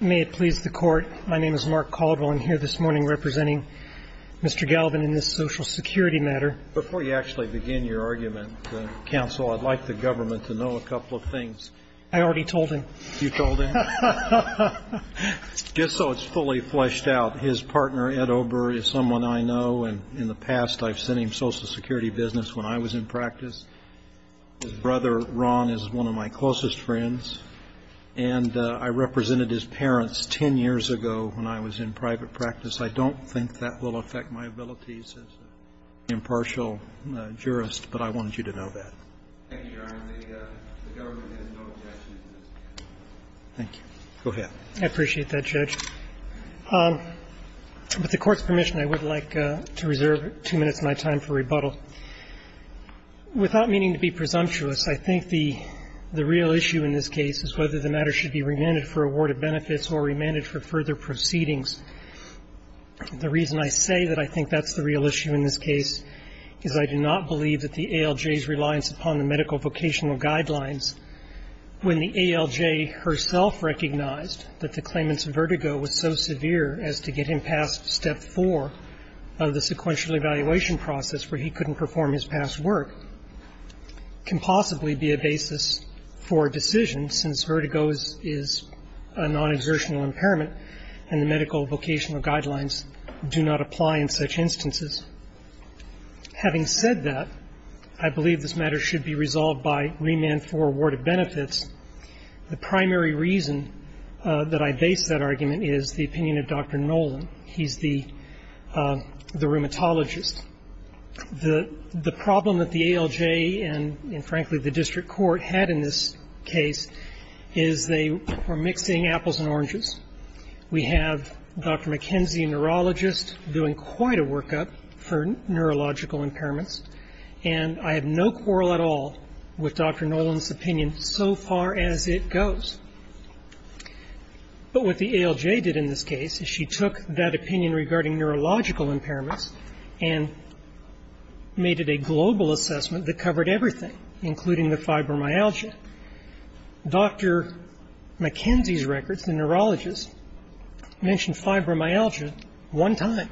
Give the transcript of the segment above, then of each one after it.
May it please the Court, my name is Mark Caldwell and I'm here this morning representing Mr. Galvan in this Social Security matter. Before you actually begin your argument, Counsel, I'd like the government to know a couple of things. I already told him. You told him? Just so it's fully fleshed out, his partner, Ed Ober, is someone I know and in the past I've sent him Social Security business when I was in practice. His brother, Ron, is one of my closest friends. And I represented his parents 10 years ago when I was in private practice. I don't think that will affect my abilities as an impartial jurist, but I wanted you to know that. Thank you, Your Honor. The government has no objection. Thank you. Go ahead. I appreciate that, Judge. With the Court's permission, I would like to reserve two minutes of my time for rebuttal. Without meaning to be presumptuous, I think the real issue in this case is whether the matter should be remanded for award of benefits or remanded for further proceedings. The reason I say that I think that's the real issue in this case is I do not believe that the ALJ's reliance upon the medical vocational guidelines, when the ALJ herself recognized that the claimant's vertigo was so severe as to get him past Step 4 of the sequential evaluation process where he couldn't perform his past work, can possibly be a basis for a decision, since vertigo is a non-exertional impairment and the medical vocational guidelines do not apply in such instances. Having said that, I believe this matter should be resolved by remand for award of benefits. The primary reason that I base that argument is the opinion of Dr. Nolan. He's the rheumatologist. The problem that the ALJ and, frankly, the district court had in this case is they were mixing apples and oranges. We have Dr. McKenzie, a neurologist, doing quite a workup for neurological impairments, and I have no quarrel at all with Dr. Nolan's opinion so far as it goes. But what the ALJ did in this case is she took that opinion regarding neurological impairments and made it a global assessment that covered everything, including the fibromyalgia. Dr. McKenzie's records, the neurologist, mentioned fibromyalgia one time,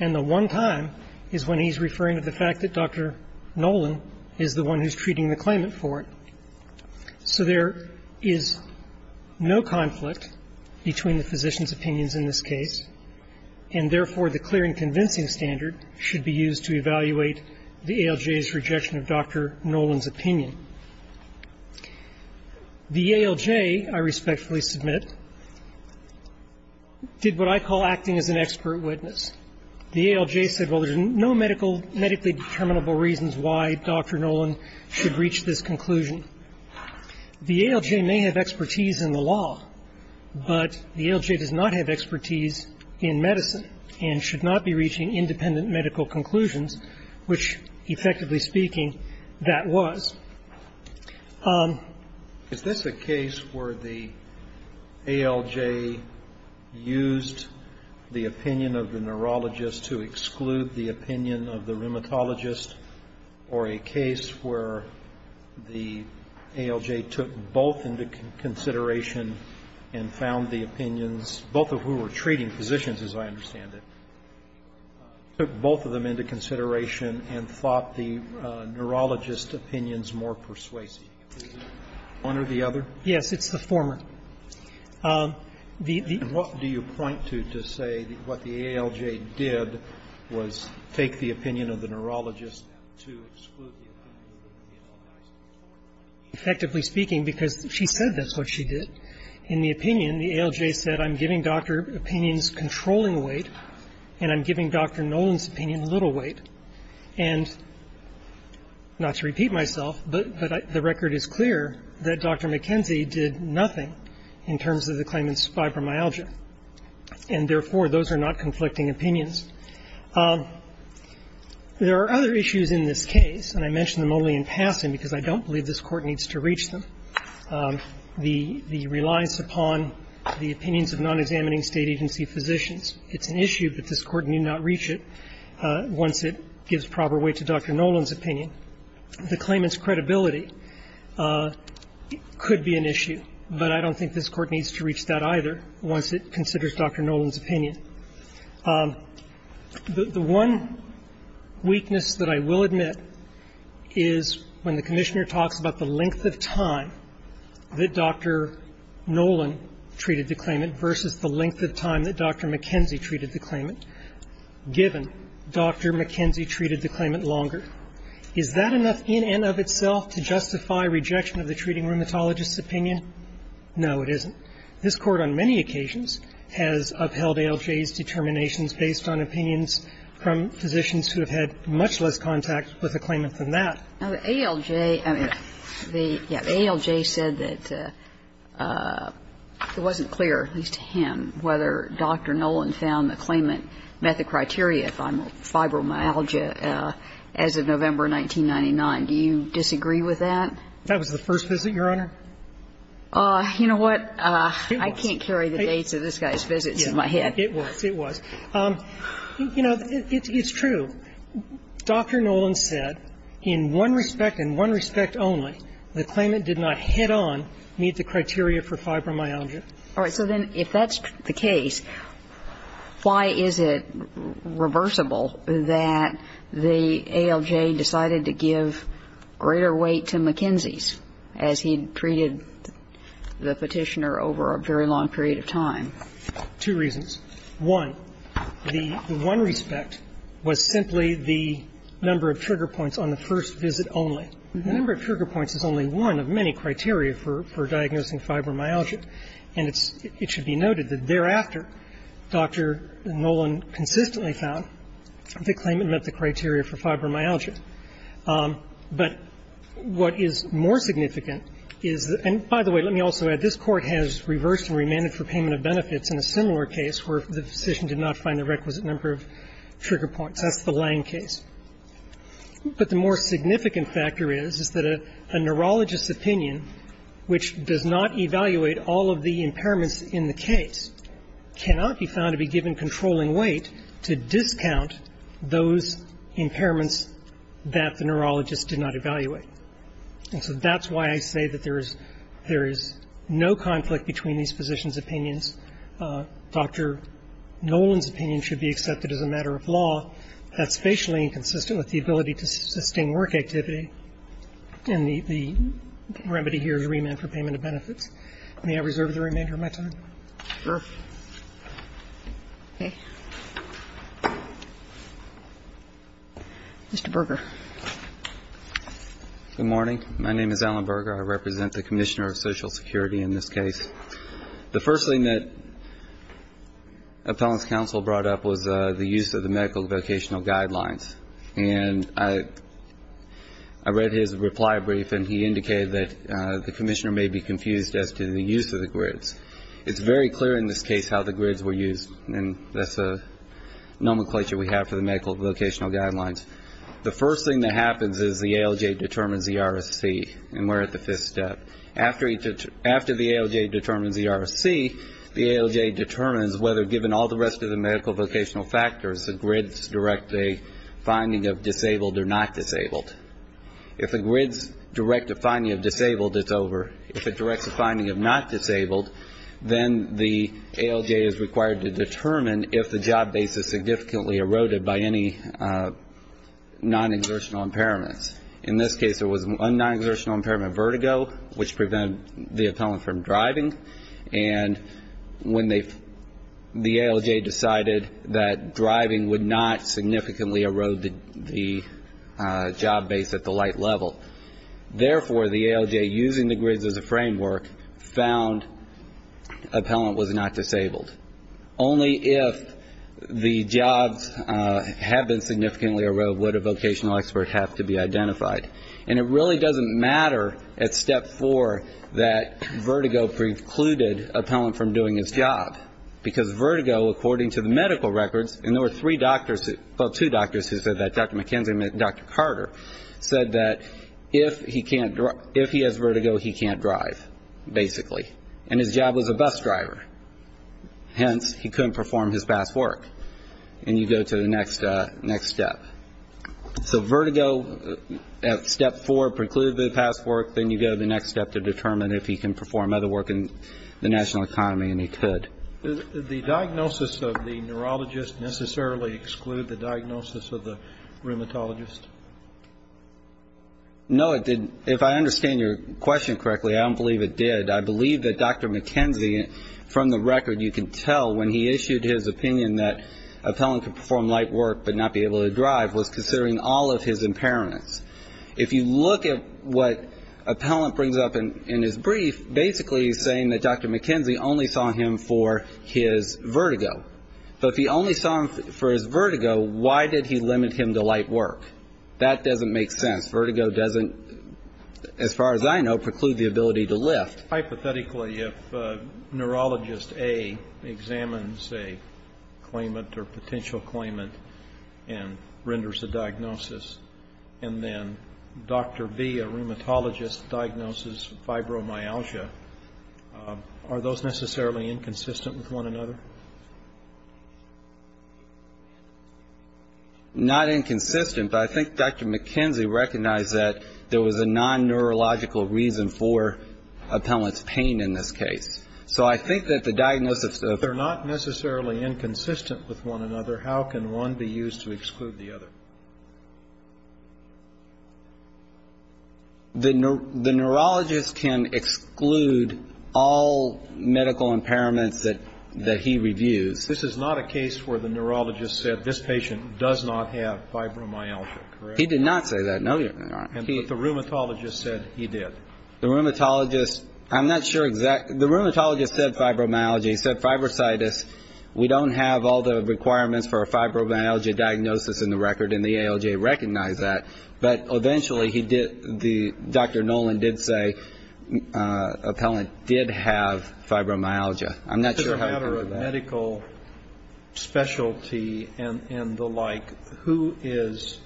and the one time is when he's referring to the fact that Dr. Nolan is the one who's treating the claimant for it. So there is no conflict between the physician's opinions in this case, and therefore the clear and convincing standard should be used to evaluate the ALJ's rejection of Dr. Nolan's opinion. The ALJ, I respectfully submit, did what I call acting as an expert witness. The ALJ said, well, there's no medically determinable reasons why Dr. Nolan should reach this conclusion. The ALJ may have expertise in the law, but the ALJ does not have expertise in medicine and should not be reaching independent medical conclusions, which, effectively speaking, that was. Is this a case where the ALJ used the opinion of the neurologist to exclude the opinion of the rheumatologist, or a case where the ALJ took both into consideration and found the opinions, both of whom were treating physicians, as I understand it, took both of them into consideration and thought the neurologist's opinions more persuasive? One or the other? Yes, it's the former. And what do you point to to say that what the ALJ did was take the opinion of the neurologist to exclude the opinion of the rheumatologist? Effectively speaking, because she said that's what she did, in the opinion, the ALJ said I'm giving Dr. Opinion's controlling weight and I'm giving Dr. Nolan's opinion little weight. And not to repeat myself, but the record is clear that Dr. McKenzie did nothing in terms of the claimant's fibromyalgia. And therefore, those are not conflicting opinions. There are other issues in this case, and I mention them only in passing because I don't believe this Court needs to reach them. The reliance upon the opinions of non-examining State agency physicians, it's an issue, but this Court need not reach it once it gives proper weight to Dr. Nolan's opinion. The claimant's credibility could be an issue, but I don't think this Court needs to reach that either once it considers Dr. Nolan's opinion. The one weakness that I will admit is when the Commissioner talks about the length of time that Dr. Nolan treated the claimant versus the length of time that Dr. McKenzie treated the claimant, given Dr. McKenzie treated the claimant longer. Is that enough in and of itself to justify rejection of the treating rheumatologist's opinion? No, it isn't. This Court on many occasions has upheld ALJ's determinations based on opinions from physicians who have had much less contact with the claimant than that. Now, the ALJ, I mean, the ALJ said that it wasn't clear, at least to him, whether Dr. Nolan found the claimant met the criteria on fibromyalgia as of November 1999. Do you disagree with that? That was the first visit, Your Honor. You know what, I can't carry the dates of this guy's visits in my head. It was, it was. You know, it's true. Dr. Nolan said in one respect, in one respect only, the claimant did not head on meet the criteria for fibromyalgia. All right. So then if that's the case, why is it reversible that the ALJ decided to give greater weight to McKinsey's as he treated the Petitioner over a very long period of time? Two reasons. One, the one respect was simply the number of trigger points on the first visit only. The number of trigger points is only one of many criteria for diagnosing fibromyalgia. And it's, it should be noted that thereafter, Dr. Nolan consistently found the claimant met the criteria for fibromyalgia. But what is more significant is, and by the way, let me also add, this Court has reversed and remanded for payment of benefits in a similar case where the physician did not find the requisite number of trigger points. That's the Lange case. But the more significant factor is, is that a neurologist's opinion, which does not evaluate all of the impairments in the case, cannot be found to be given controlling weight to discount those impairments that the neurologist did not evaluate. And so that's why I say that there is, there is no conflict between these physicians' opinions. Dr. Nolan's opinion should be accepted as a matter of law. That's spatially inconsistent with the ability to sustain work activity. And the remedy here is remand for payment of benefits. May I reserve the remainder of my time? Sure. Okay. Mr. Berger. Good morning. My name is Alan Berger. I represent the Commissioner of Social Security in this case. The first thing that Appellant's counsel brought up was the use of the medical vocational guidelines. And I read his reply brief, and he indicated that the Commissioner may be confused as to the use of the grids. It's very clear in this case how the grids were used, and that's a nomenclature we have for the medical vocational guidelines. The first thing that happens is the ALJ determines the RSC, and we're at the fifth step. After the ALJ determines the RSC, the ALJ determines whether, given all the rest of the medical vocational factors, the grids direct a finding of disabled or not disabled. If the grids direct a finding of disabled, it's over. If it directs a finding of not disabled, then the ALJ is required to determine if the job base is significantly eroded by any non-exertional impairments. In this case, it was non-exertional impairment vertigo, which prevented the appellant from driving. And when the ALJ decided that driving would not significantly erode the job base at the light level, therefore the ALJ, using the grids as a framework, found appellant was not disabled. Only if the jobs have been significantly eroded would a vocational expert have to be identified. And it really doesn't matter at step four that vertigo precluded appellant from doing his job, because vertigo, according to the medical records, and there were three doctors, well, two doctors who said that, Dr. McKenzie and Dr. Carter said that if he has vertigo, he can't drive, basically. And his job was a bus driver. Hence, he couldn't perform his past work. And you go to the next step. So vertigo at step four precluded the past work. Then you go to the next step to determine if he can perform other work in the national economy, and he could. Did the diagnosis of the neurologist necessarily exclude the diagnosis of the rheumatologist? No, it didn't. If I understand your question correctly, I don't believe it did. I believe that Dr. McKenzie, from the record, you can tell when he issued his opinion that appellant could perform light work but not be able to drive, was considering all of his impairments. If you look at what appellant brings up in his brief, he's basically saying that Dr. McKenzie only saw him for his vertigo. But if he only saw him for his vertigo, why did he limit him to light work? That doesn't make sense. Vertigo doesn't, as far as I know, preclude the ability to lift. Hypothetically, if neurologist A examines a claimant or potential claimant and renders a diagnosis, and then Dr. B, a rheumatologist, diagnoses fibromyalgia, are those necessarily inconsistent with one another? Not inconsistent, but I think Dr. McKenzie recognized that there was a non-neurological reason for appellant's pain in this case. So I think that the diagnosis of the If they're not necessarily inconsistent with one another, how can one be used to exclude the other? The neurologist can exclude all medical impairments that he reviews. This is not a case where the neurologist said this patient does not have fibromyalgia, correct? He did not say that, no, Your Honor. But the rheumatologist said he did. The rheumatologist, I'm not sure exactly. The rheumatologist said fibromyalgia. He said fibrocytis. We don't have all the requirements for a fibromyalgia diagnosis in the record, and the ALJ recognized that. But eventually he did, Dr. Nolan did say appellant did have fibromyalgia. I'm not sure how he heard that. As a matter of medical specialty and the like, who is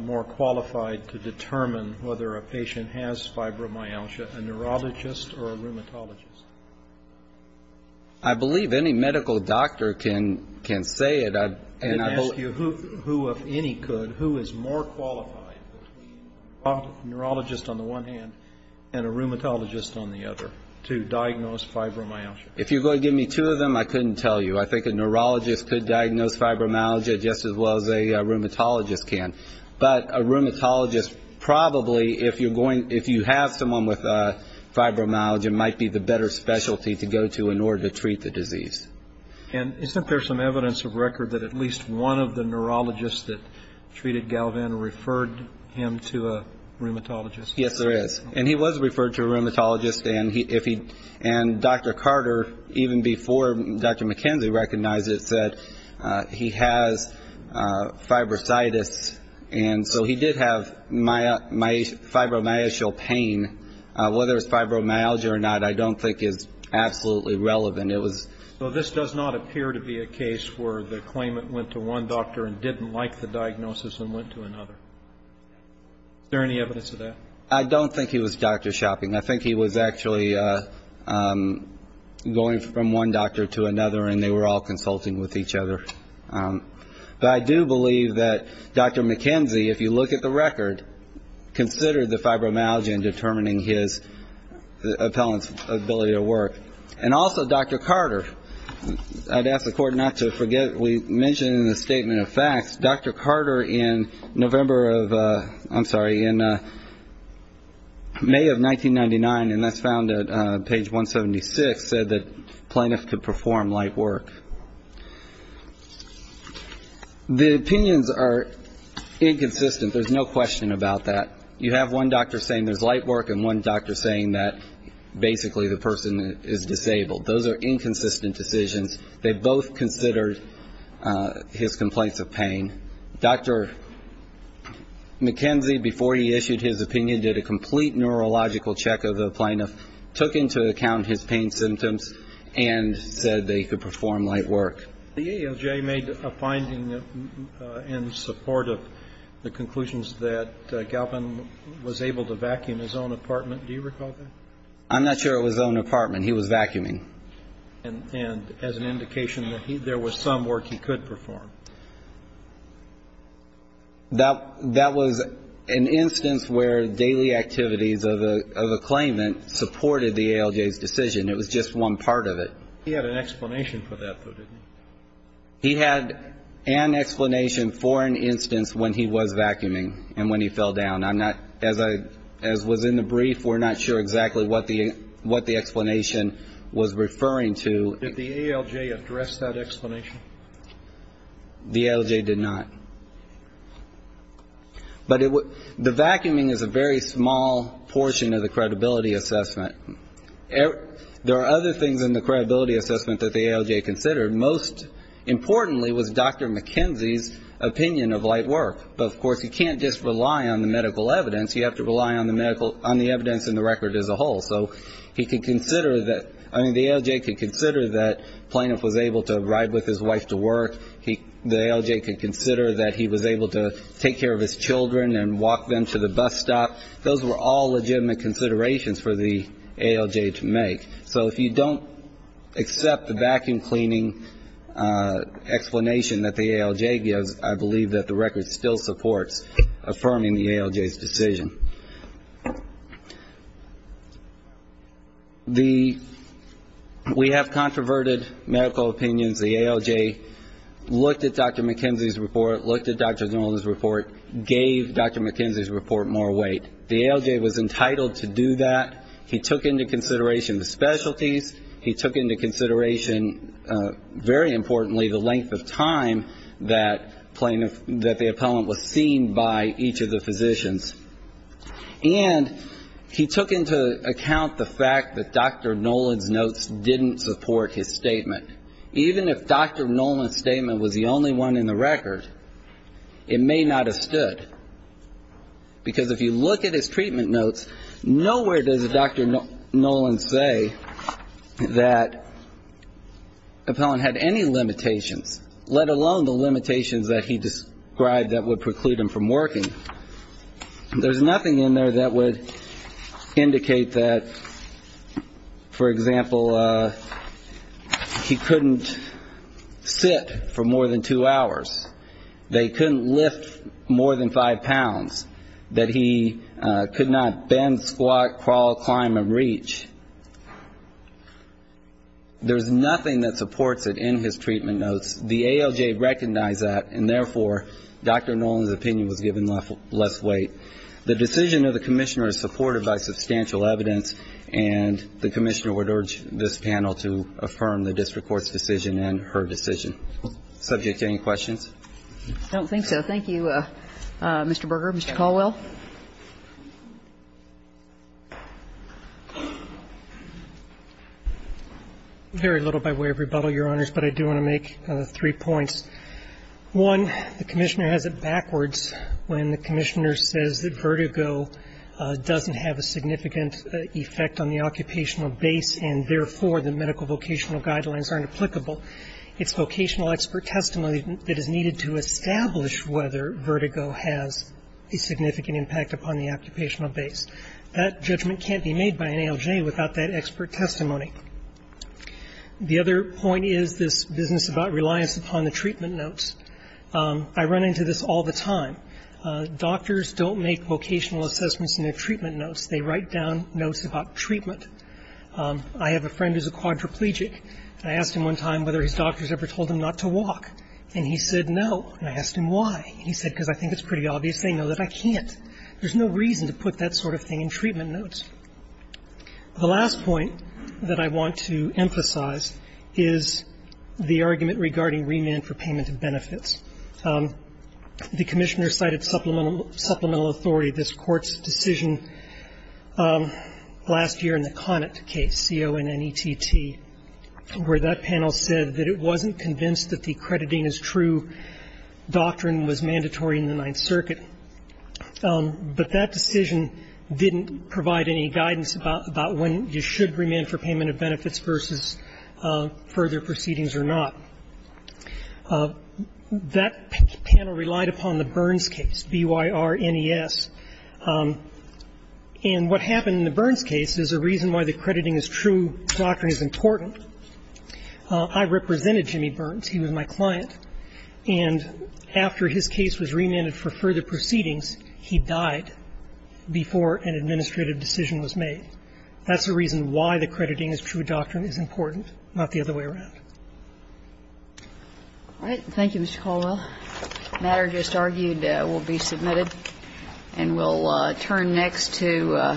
more qualified to determine whether a patient has fibromyalgia, a neurologist or a rheumatologist? I believe any medical doctor can say it. I'd ask you who, if any could, who is more qualified, a neurologist on the one hand and a rheumatologist on the other, to diagnose fibromyalgia? If you're going to give me two of them, I couldn't tell you. I think a neurologist could diagnose fibromyalgia just as well as a rheumatologist can. But a rheumatologist probably, if you have someone with fibromyalgia, might be the better specialty to go to in order to treat the disease. And isn't there some evidence of record that at least one of the neurologists that treated Galvan referred him to a rheumatologist? Yes, there is. And he was referred to a rheumatologist. And Dr. Carter, even before Dr. McKenzie recognized it, said he has fibrositis. And so he did have fibromyalgial pain. Whether it was fibromyalgia or not, I don't think is absolutely relevant. So this does not appear to be a case where the claimant went to one doctor and didn't like the diagnosis and went to another. Is there any evidence of that? I don't think he was doctor shopping. I think he was actually going from one doctor to another, and they were all consulting with each other. But I do believe that Dr. McKenzie, if you look at the record, considered the fibromyalgia in determining his appellant's ability to work. And also Dr. Carter, I'd ask the Court not to forget we mentioned in the Statement of Facts, Dr. Carter in May of 1999, and that's found at page 176, said that plaintiffs could perform light work. The opinions are inconsistent. There's no question about that. You have one doctor saying there's light work and one doctor saying that basically the person is disabled. Those are inconsistent decisions. They both considered his complaints of pain. Dr. McKenzie, before he issued his opinion, did a complete neurological check of the plaintiff, took into account his pain symptoms, and said they could perform light work. The ALJ made a finding in support of the conclusions that Galpin was able to vacuum his own apartment. Do you recall that? I'm not sure it was his own apartment. He was vacuuming. And as an indication that there was some work he could perform. That was an instance where daily activities of a claimant supported the ALJ's decision. It was just one part of it. He had an explanation for that, though, didn't he? He had an explanation for an instance when he was vacuuming and when he fell down. As was in the brief, we're not sure exactly what the explanation was referring to. Did the ALJ address that explanation? The ALJ did not. But the vacuuming is a very small portion of the credibility assessment. There are other things in the credibility assessment that the ALJ considered. Most importantly was Dr. McKenzie's opinion of light work. But, of course, you can't just rely on the medical evidence. You have to rely on the evidence and the record as a whole. So he could consider that the ALJ could consider that Plaintiff was able to ride with his wife to work. The ALJ could consider that he was able to take care of his children and walk them to the bus stop. Those were all legitimate considerations for the ALJ to make. So if you don't accept the vacuum cleaning explanation that the ALJ gives, I believe that the record still supports affirming the ALJ's decision. We have controverted medical opinions. The ALJ looked at Dr. McKenzie's report, looked at Dr. Nolan's report, gave Dr. McKenzie's report more weight. The ALJ was entitled to do that. He took into consideration the specialties. He took into consideration, very importantly, the length of time that the appellant was seen by each of the physicians. And he took into account the fact that Dr. Nolan's notes didn't support his statement. Even if Dr. Nolan's statement was the only one in the record, it may not have stood. Because if you look at his treatment notes, nowhere does Dr. Nolan say that the appellant had any limitations, let alone the limitations that he described that would preclude him from working. There's nothing in there that would indicate that, for example, he couldn't sit for more than two hours. They couldn't lift more than five pounds. That he could not bend, squat, crawl, climb and reach. There's nothing that supports it in his treatment notes. The ALJ recognized that, and therefore, Dr. Nolan's opinion was given less weight. The decision of the commissioner is supported by substantial evidence, and the commissioner would urge this panel to affirm the district court's decision and her decision. Subject to any questions? I don't think so. Thank you, Mr. Berger. Mr. Caldwell? Very little by way of rebuttal, Your Honors, but I do want to make three points. One, the commissioner has it backwards when the commissioner says that vertigo doesn't have a significant effect on the occupational base, and therefore, the medical vocational guidelines aren't applicable. It's vocational expert testimony that is needed to establish whether vertigo has a significant impact upon the occupational base. That judgment can't be made by an ALJ without that expert testimony. The other point is this business about reliance upon the treatment notes. I run into this all the time. Doctors don't make vocational assessments in their treatment notes. They write down notes about treatment. I have a friend who's a quadriplegic, and I asked him one time whether his doctors ever told him not to walk, and he said no, and I asked him why. He said, because I think it's pretty obvious they know that I can't. There's no reason to put that sort of thing in treatment notes. The last point that I want to emphasize is the argument regarding remand for payment of benefits. The commissioner cited supplemental authority. This Court's decision last year in the Connett case, C-O-N-N-E-T-T, where that panel said that it wasn't convinced that the crediting as true doctrine was mandatory in the Ninth Circuit. But that decision didn't provide any guidance about when you should remand for payment of benefits versus further proceedings or not. That panel relied upon the Burns case, B-Y-R-N-E-S. And what happened in the Burns case is a reason why the crediting as true doctrine is important. I represented Jimmy Burns. He was my client. And after his case was remanded for further proceedings, he died before an administrative decision was made. That's the reason why the crediting as true doctrine is important, not the other way around. All right. Thank you, Mr. Caldwell. The matter just argued will be submitted. And we'll turn next to Castillo.